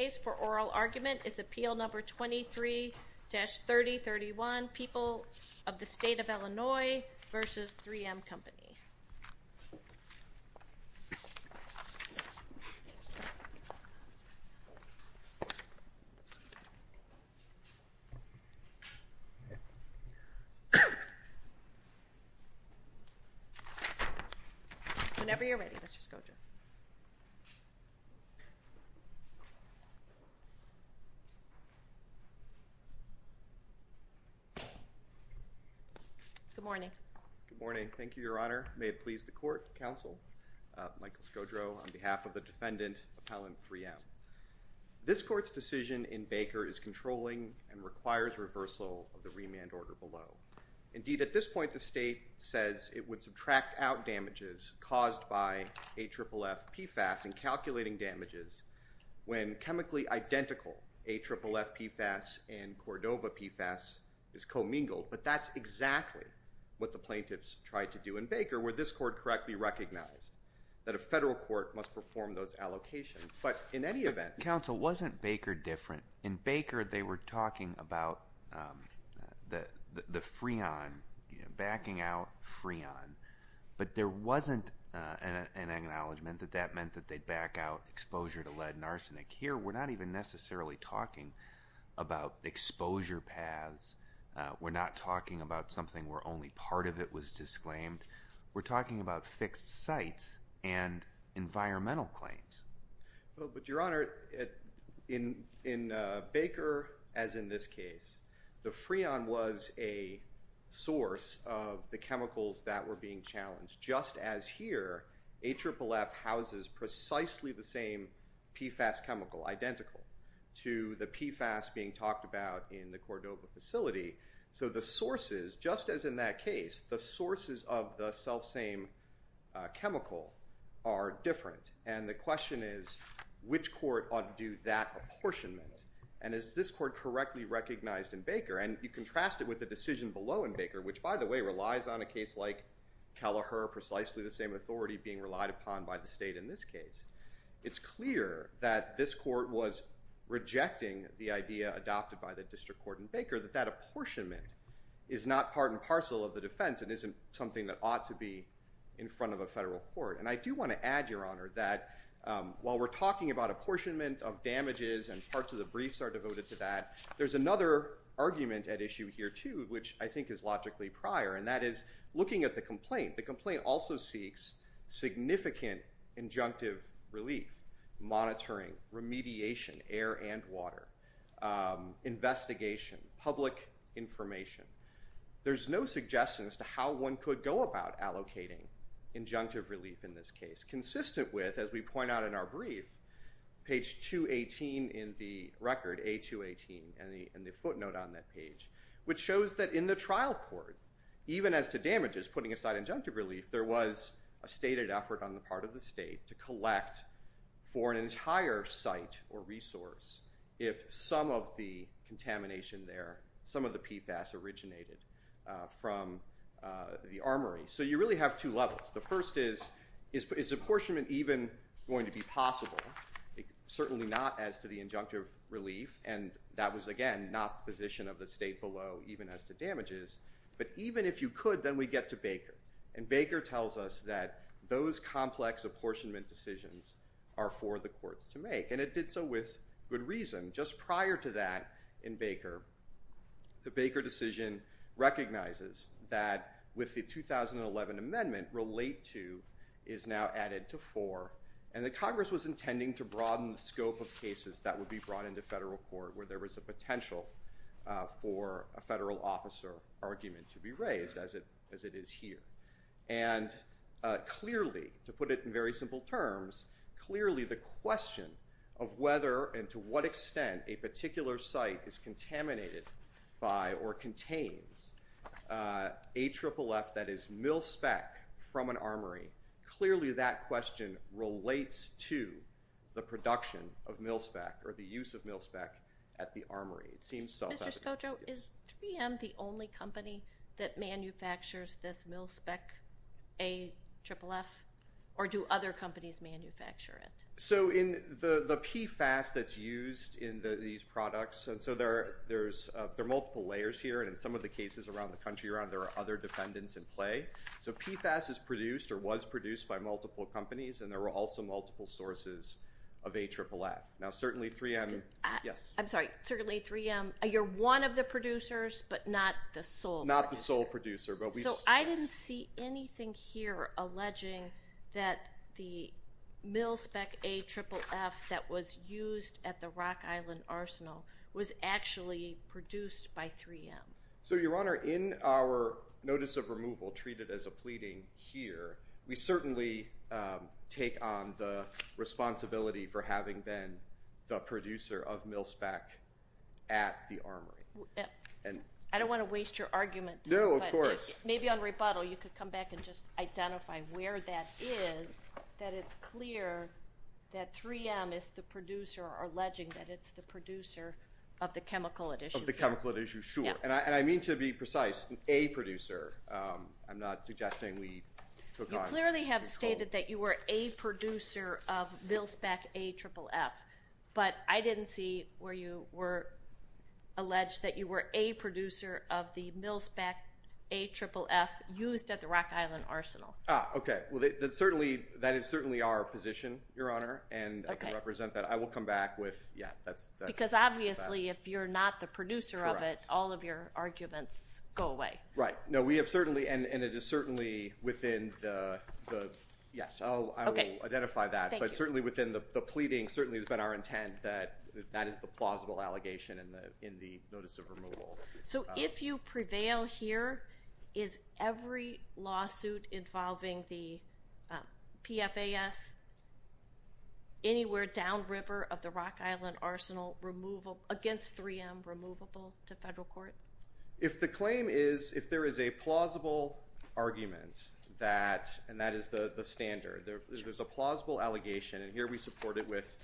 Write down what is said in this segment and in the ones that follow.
is Appeal Number 23-3031, People of the State of Illinois v. 3M Company. Whenever you're ready, Mr. Skocza. Good morning. Good morning. Thank you, Your Honor. May it please the court, counsel, Michael Skodro, on behalf of the defendant, appellant 3M. This court's decision in Baker is controlling and requires reversal of the remand order below. Indeed, at this point, the state says it would subtract out damages caused by AFFF PFAS and calculating damages when chemically identical AFFF PFAS and Cordova PFAS is commingled. But that's exactly what the plaintiffs tried to do in Baker, where this court correctly recognized that a federal court must perform those allocations. But in any event... Counsel, wasn't Baker different? In Baker, they were talking about the freon, backing out freon. But there wasn't an acknowledgment that that meant that they'd back out exposure to lead and arsenic. Here, we're not even necessarily talking about exposure paths. We're not talking about something where only part of it was disclaimed. We're talking about fixed sites and environmental claims. But, Your Honor, in Baker, as in this case, the freon was a source of the chemicals that were being challenged. Just as here, AFFF houses precisely the same PFAS chemical, identical to the PFAS being talked about in the Cordova facility. So the sources, just as in that case, the sources of the self-same chemical are different. And the question is, which court ought to do that apportionment? And is this court correctly recognized in Baker? And you contrast it with the decision below in Baker, which, by the way, relies on a case like Kelleher, precisely the same authority being relied upon by the state in this case. It's clear that this court was rejecting the idea adopted by the district court in Baker, that that apportionment is not part and parcel of the defense and isn't something that ought to be in front of a federal court. And I do want to add, Your Honor, that while we're talking about apportionment of damages and parts of the briefs are devoted to that, there's another argument at issue here, too, which I think is logically prior. And that is, looking at the complaint, the complaint also seeks significant injunctive relief, monitoring, remediation, air and water, investigation, public information. There's no suggestion as to how one could go about allocating injunctive relief in this case. It's consistent with, as we point out in our brief, page 218 in the record, A218, and the footnote on that page, which shows that in the trial court, even as to damages, putting aside injunctive relief, there was a stated effort on the part of the state to collect for an entire site or resource if some of the contamination there, some of the PFAS originated from the armory. So you really have two levels. The first is, is apportionment even going to be possible? Certainly not as to the injunctive relief. And that was, again, not the position of the state below even as to damages. But even if you could, then we get to Baker. And Baker tells us that those complex apportionment decisions are for the courts to make. And it did so with good to that in Baker. The Baker decision recognizes that with the 2011 amendment, relate to is now added to for. And the Congress was intending to broaden the scope of cases that would be brought into federal court where there was a potential for a federal officer argument to be raised, as it is here. And clearly, to put it in very simple terms, clearly the question of whether and to what extent a particular site is contaminated by or contains AFFF, that is mil-spec from an armory, clearly that question relates to the production of mil-spec or the use of mil-spec at the armory. It seems so. Is 3M the only company that manufactures this mil-spec AFFF? Or do other companies manufacture it? So in the PFAS that's used in these products, there are multiple layers here. And in some of the cases around the country, there are other dependents in play. So PFAS is produced or was produced by multiple companies. And there are also multiple sources of AFFF. Now, certainly 3M, yes? I'm sorry. Certainly 3M. You're one of the producers, but not the sole producer. So I didn't see anything here alleging that the mil-spec AFFF that was used at the Rock Island Arsenal was actually produced by 3M. So, Your Honor, in our notice of removal treated as a pleading here, we certainly take on the 3M mil-spec AFFF. I don't want to waste your argument. No, of course. Maybe on rebuttal you could come back and just identify where that is, that it's clear that 3M is the producer or alleging that it's the producer of the chemical at issue. Of the chemical at issue, sure. And I mean to be precise, an A producer. I'm not suggesting we took on... You clearly have stated that you were a producer of mil-spec AFFF, but I didn't see where you were alleged that you were a producer of the mil-spec AFFF used at the Rock Island Arsenal. Ah, okay. That is certainly our position, Your Honor, and I can represent that. I will come back with... Because obviously if you're not the producer of it, all of your arguments go away. Right. No, we have certainly and it is certainly within the... Yes, I will identify that. But certainly within the pleading, certainly it's been our intent that that is the plausible allegation in the notice of removal. So if you prevail here, is every lawsuit involving the PFAS anywhere downriver of the Rock Island Arsenal against 3M removable to federal court? If the claim is... If there is a plausible argument that... And that is the standard. If there's a plausible allegation, and here we support it with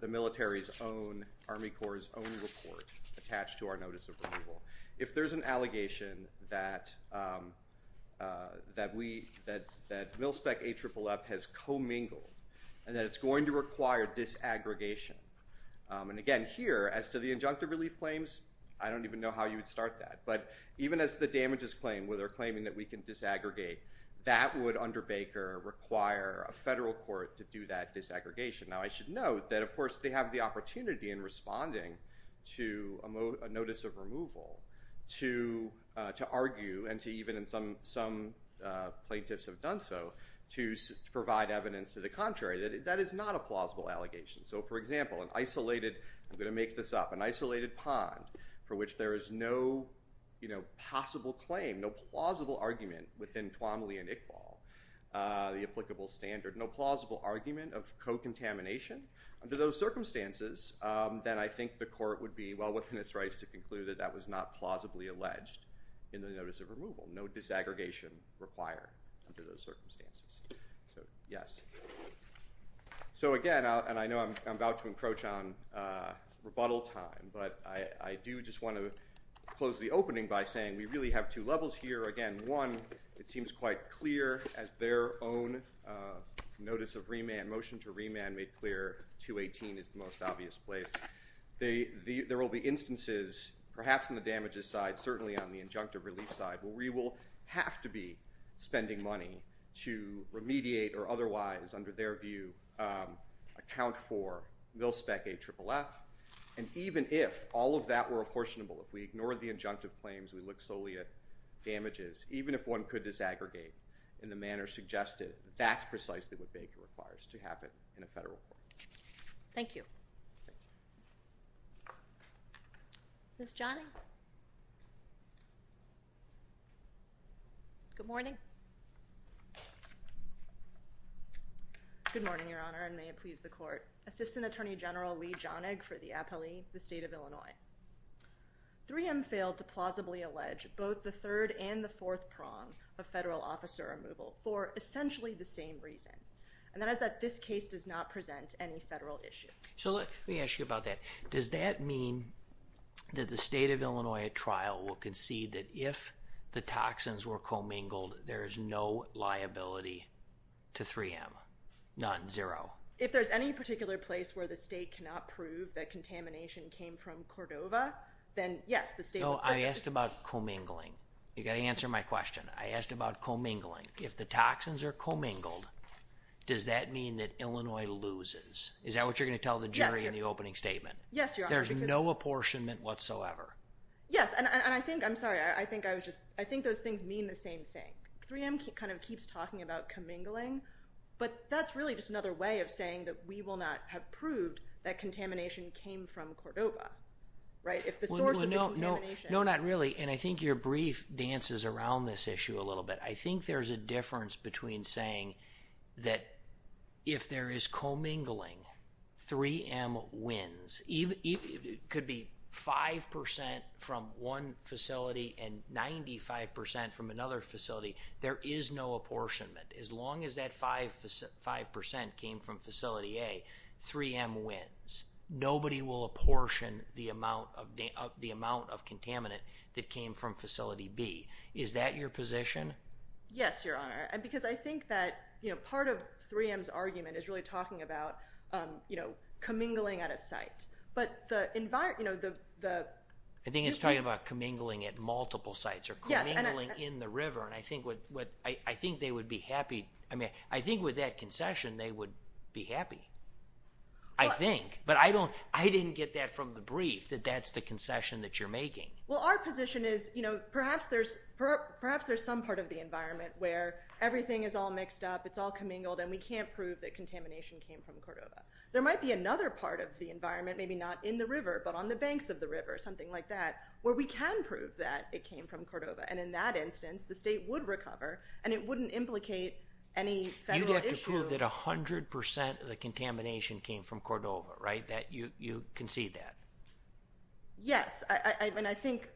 the military's own, Army Corps' own report attached to our notice of removal. If there's an allegation that mil-spec AFFF has co-mingled, and that it's going to dis-aggregate, that would, under Baker, require a federal court to do that dis-aggregation. Now I should note that, of course, they have the opportunity in responding to a notice of removal to argue, and to even in some plaintiffs have done so, to provide evidence to the contrary. That is not a plausible allegation. So for example, an isolated... I'm going to make this up. An isolated pond for which there is no possible claim, no plausible argument within Twomley and Iqbal, the applicable standard, no plausible argument of co-contamination. Under those circumstances, then I think the court would be well within its rights to conclude that that was not plausibly alleged in the notice of removal. No dis-aggregation required under those circumstances. I'm about to encroach on rebuttal time, but I do just want to close the opening by saying we really have two levels here. Again, one, it seems quite clear as their own notice of remand, motion to remand made clear, 218 is the most obvious place. There will be instances, perhaps on the damages side, certainly on the injunctive relief side, where we will have to be spending money to remediate or otherwise, under their view, account for mil-spec AFFF. And even if all of that were apportionable, if we ignored the injunctive claims, we looked solely at damages, even if one could dis-aggregate in the manner suggested, that's precisely what Baker requires to happen in a federal court. Thank you. Ms. Johnny? Good morning. Good morning, Your Honor, and may it please the court. Assistant Attorney General Lee Jahnig for the Appellee, the State of Illinois. 3M failed to plausibly allege both the third and the fourth prong of federal officer removal for essentially the same reason, and that is that this case does not present any evidence that the State of Illinois at trial will concede that if the toxins were commingled, there is no liability to 3M. None. Zero. If there's any particular place where the state cannot prove that contamination came from Cordova, then yes, the State of Illinois. No, I asked about commingling. You've got to answer my question. I asked about commingling. If the toxins are commingled, does that mean that there is no liability to 3M whatsoever? Yes, and I think those things mean the same thing. 3M kind of keeps talking about commingling, but that's really just another way of saying that we will not have proved that contamination came from Cordova. No, not really, and I think your brief dances around this issue a little bit. I think there's a 5% from one facility and 95% from another facility. There is no apportionment. As long as that 5% came from Facility A, 3M wins. Nobody will apportion the amount of contaminant that came from Facility B. Is that your position? Yes, Your Honor, because I think that part of 3M's argument is really talking about commingling at a site. I think it's talking about commingling at multiple sites or commingling in the river, and I think with that concession they would be happy. I think, but I didn't get that from the brief, that that's the concession that you're making. Well, our position is perhaps there's some part of the environment, maybe not in the river, but on the banks of the river, something like that, where we can prove that it came from Cordova, and in that instance the state would recover and it wouldn't implicate any federal issue. You'd have to prove that 100% of the contamination came from Cordova, right? You concede that. Yes, and I think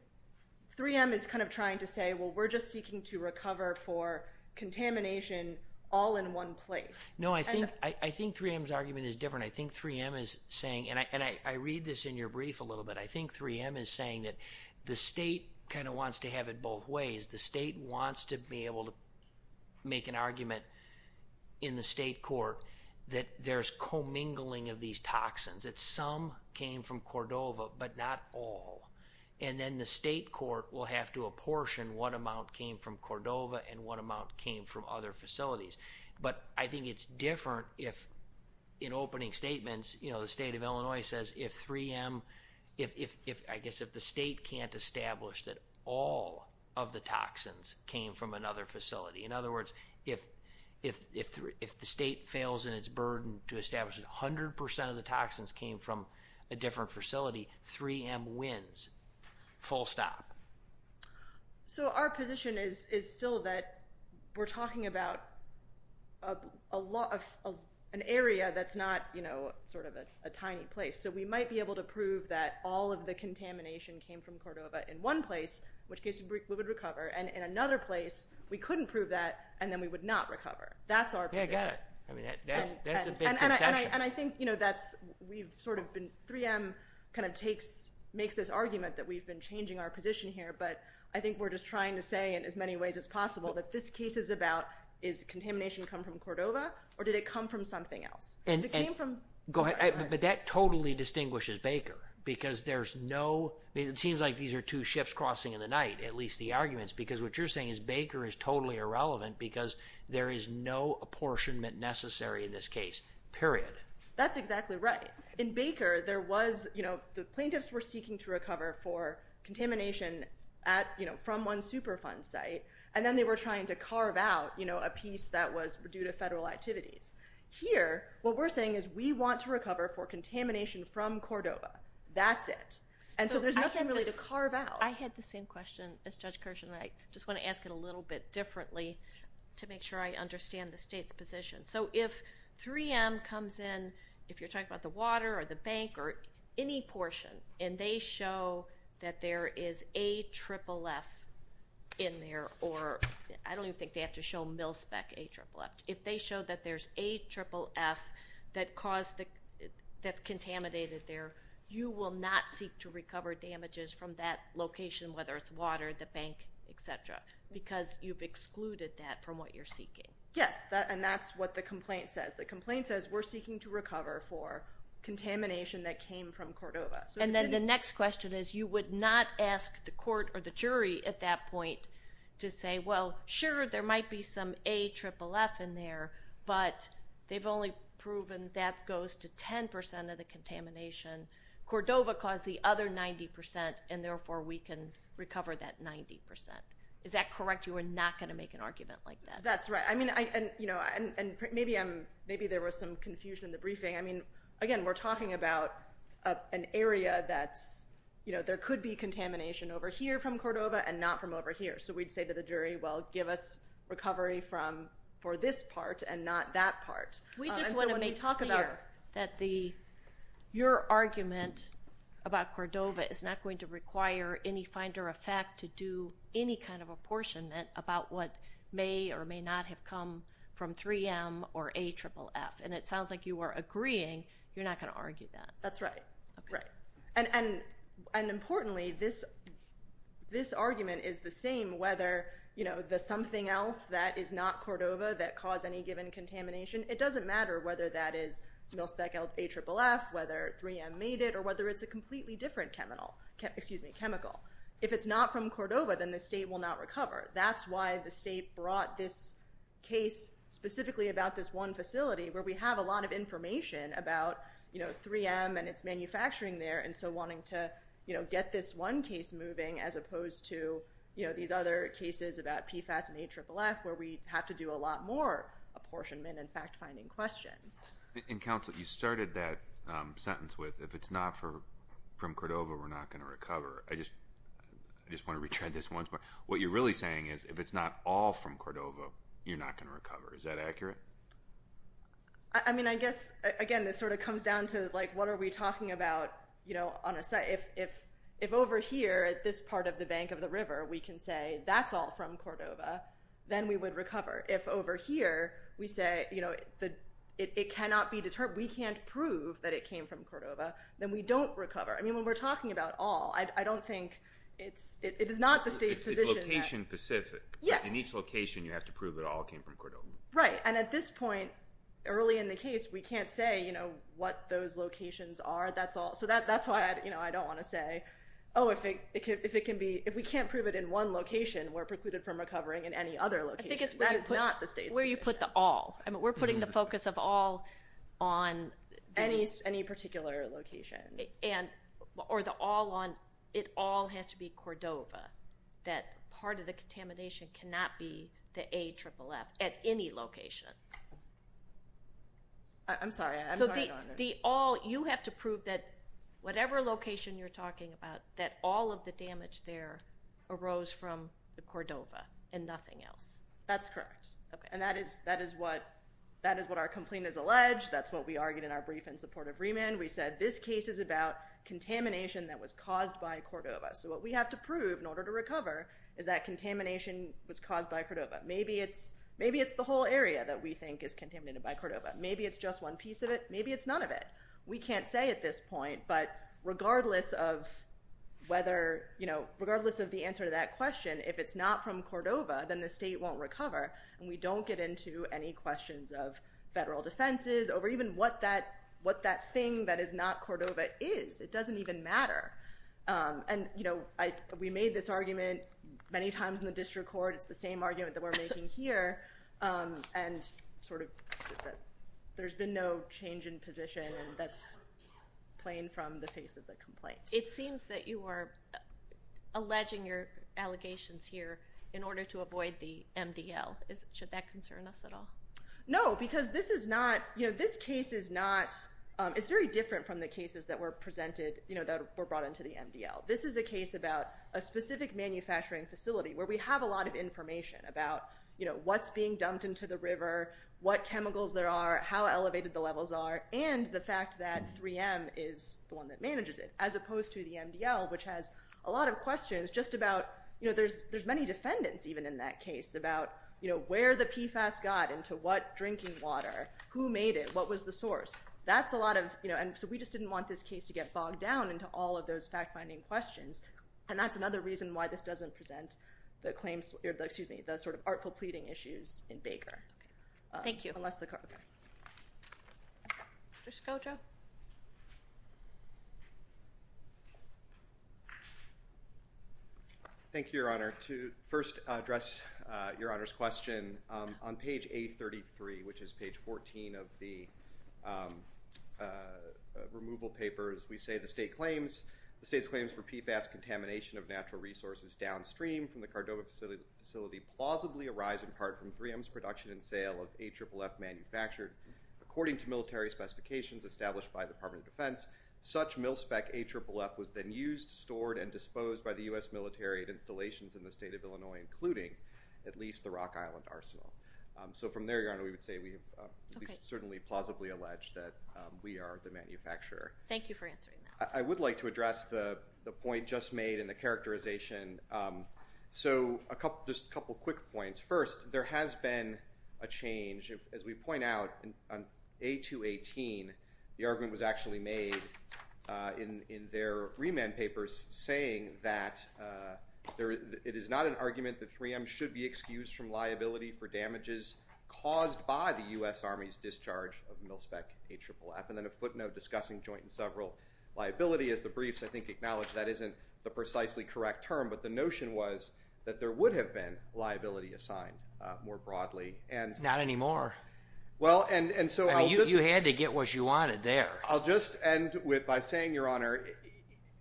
3M is kind of trying to say, well, we're just seeking to recover for contamination all in one place. No, I think 3M's argument is different. I think 3M is saying, and I read this in your brief a little bit, I think 3M is saying that the state kind of wants to have it both ways. The state wants to be able to make an argument in the state court that there's commingling of these toxins, that some came from Cordova but not all, and then the state court will have to apportion what amount came from Cordova and what amount came from other facilities. But I think it's different if, in opening statements, the state of Illinois says if 3M, I guess if the state can't establish that all of the toxins came from another facility. In other words, if the state fails in its burden to establish that 100% of the toxins came from a different facility, 3M wins. Full stop. So our position is still that we're talking about an area that's not sort of a tiny place. So we might be able to prove that all of the contamination came from Cordova in one place, in which case we would recover, and in another place, we couldn't prove that and then we would not recover. That's our position. That's a big concession. 3M kind of makes this argument that we've been changing our position here, but I think we're just trying to say in as many ways as possible that this case is about, is contamination come from Cordova or did it come from something else? But that totally distinguishes Baker because there's no, it seems like these are two ships crossing in the night, at least the arguments, because what you're saying is Baker is totally irrelevant because there is no apportionment necessary in this case, period. That's exactly right. In Baker, the plaintiffs were seeking to recover for contamination from one Superfund site, and then they were trying to carve out a piece that was due to federal activities. Here, what we're saying is we want to recover for contamination from Cordova. That's it. And so there's nothing really to carve out. I had the same question as Judge Kirshen, and I just want to ask it a little bit differently to make sure I understand the state's position. So if 3M comes in, if you're talking about the water or the bank or any portion, and they show that there is AFFF in there, or I don't even think they have to show Millspec AFFF, if they show that there's AFFF that caused the, that's contaminated there, you will not seek to recover damages from that location, whether it's water, the bank, et cetera, because you've excluded that from what you're seeking. Yes, and that's what the complaint says. The complaint says we're seeking to recover for contamination. And the next question is you would not ask the court or the jury at that point to say, well, sure, there might be some AFFF in there, but they've only proven that goes to 10% of the contamination. Cordova caused the other 90%, and therefore we can recover that 90%. Is that correct? You are not going to make an argument like that? That's right. I mean, and maybe I'm, maybe there was some confusion in the briefing. I mean, again, we're talking about an area that's, you know, there could be contamination over here from Cordova and not from over here. So we'd say to the jury, well, give us recovery from, for this part and not that part. We just want to make clear that the, your argument about Cordova is not going to require any finder of fact to do any kind of apportionment about what may or may not have come from 3M or AFFF. And it sounds like you are agreeing you're not going to argue that. That's right. Right. And importantly, this argument is the same whether, you know, the something else that is not Cordova that caused any given contamination, it doesn't matter whether that is mil-spec AFFF, whether 3M made it, or whether it's a completely different chemical. If it's not from Cordova, then the state will not recover. That's why the state brought this case specifically about this one facility where we have a lot of information about, you know, 3M and its manufacturing there. And so wanting to, you know, get this one case moving as opposed to, you know, these other cases about PFAS and AFFF where we have to do a lot more apportionment and fact finding questions. And Counsel, you started that sentence with, if it's not from Cordova, we're not going to recover. I just want to retread this once more. What you're really saying is if it's not all from Cordova, you're not going to recover. Is that accurate? I mean, I guess, again, this sort of comes down to, like, what are we talking about, you know, on a site? If over here at this part of the bank of the river, we can say that's all from Cordova, then we would recover. If over here, we say, you know, it cannot be determined, we can't prove that it came from Cordova, then we don't recover. I mean, when we're talking about all, I don't think it's, it is not the state's position. It's location specific. In each location, you have to prove it all came from Cordova. Right. And at this point, early in the case, we can't say, you know, what those locations are. That's all. So that's why, you know, I don't want to say, oh, if it can be, if we can't prove it in one location, we're precluded from recovering in any other location. That is not the state's position. I think it's where you put the all. I mean, we're putting the focus of all on... Any particular location. And, or the all on, it all has to be Cordova. That part of the contamination cannot be the AFFF at any location. I'm sorry. So the all, you have to prove that whatever location you're talking about, that all of the damage there arose from Cordova and nothing else. That's correct. And that is, that is what, that is what our complaint is alleged. That's what we argued in our brief in support of Riemann. We said this case is about contamination that was caused by Cordova. So what we have to prove in order to recover is that contamination was caused by Cordova. Maybe it's, maybe it's the whole area that we think is contaminated by Cordova. Maybe it's just one piece of it. Maybe it's none of it. We can't say at this point, but regardless of whether, you know, regardless of the answer to that question, if it's not from Cordova, then the state won't recover. And we don't get into any questions of federal defenses over even what that, what that thing that is not Cordova is. It doesn't even matter. And, you know, I, we made this argument many times in the district court. It's the same argument that we're making here. And sort of, there's been no change in position and that's plain from the face of the complaint. It seems that you are alleging your allegations here in order to avoid the MDL. Should that concern us at all? No, because this is not, you know, this case is not, it's very different from the cases that were presented, you know, that were brought into the MDL. This is a case about a specific manufacturing facility where we have a lot of information about, you know, what's being dumped into the river, what chemicals there are, how elevated the levels are, and the fact that 3M is the one that manages it, as opposed to the MDL, which has a lot of questions just about, you know, there's many defendants even in that case about, you know, where the PFAS got into what drinking water, who made it, what was the source. That's a lot of, you know, and so we just didn't want this case to get bogged down into all of those fact-finding questions. And that's another reason why this doesn't present the claims, excuse me, the sort of artful pleading issues in Baker. Thank you. Thank you, Your Honor. To first address Your Honor's question, on page 833, which is page 14 of the removal papers, we say the state's claims for PFAS contamination of natural resources downstream from the Cordova facility plausibly arise in part from 3M's production and sale of AFFF manufactured. According to military specifications established by the Department of Defense, such mil-spec AFFF was then used, stored, and disposed by the U.S. military at installations in the state of Illinois, including at least the Rock Island Arsenal. So from there, Your Honor, we would say we have certainly plausibly alleged that we are the manufacturer. Thank you for answering that. I would like to address the point just made in the characterization. So just a couple quick points. First, there has been a change. As we point out, on A218, the argument was actually made in their remand papers saying that it is not an argument that 3M should be excused from liability for damages caused by the U.S. Army's discharge of mil-spec AFFF. And then a footnote discussing joint and several liability. As the briefs, I think, acknowledge that isn't the precisely correct term, but the notion was that there would have been liability assigned more broadly. Not anymore. You had to get what you wanted there. I'll just end by saying, Your Honor,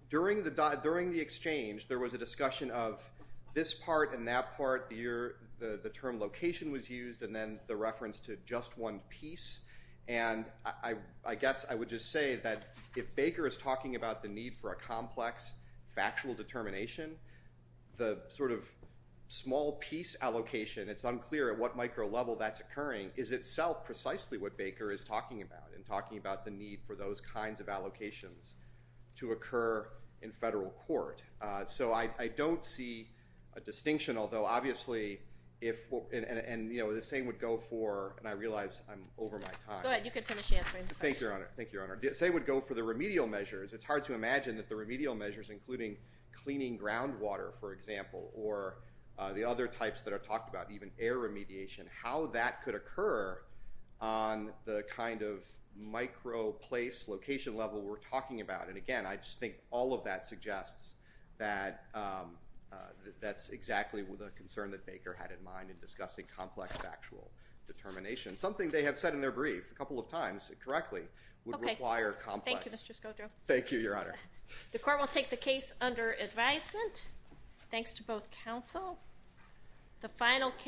during the exchange, there was a discussion of this part and that part, the term location was used, and then the reference to just one piece. And I guess I would just say that if Baker is talking about this sort of small piece allocation, it's unclear at what micro level that's occurring, is itself precisely what Baker is talking about, and talking about the need for those kinds of allocations to occur in federal court. So I don't see a distinction, although obviously, and the same would go for, and I realize I'm over my time. Go ahead. You can finish answering. Thank you, Your Honor. The same would go for the remedial measures. It's hard to imagine that the remedial measures, including cleaning groundwater, for example, or the other types that are talked about, even air remediation, how that could occur on the kind of micro place location level we're talking about. And again, I just think all of that suggests that that's exactly the concern that Baker had in mind in discussing complex factual determination. Something they have said in their brief a couple of times correctly would require complex. Thank you, Mr. Scodro. Thank you, Your Honor. The court will take the case under advisement. Thanks to both counsel. The final case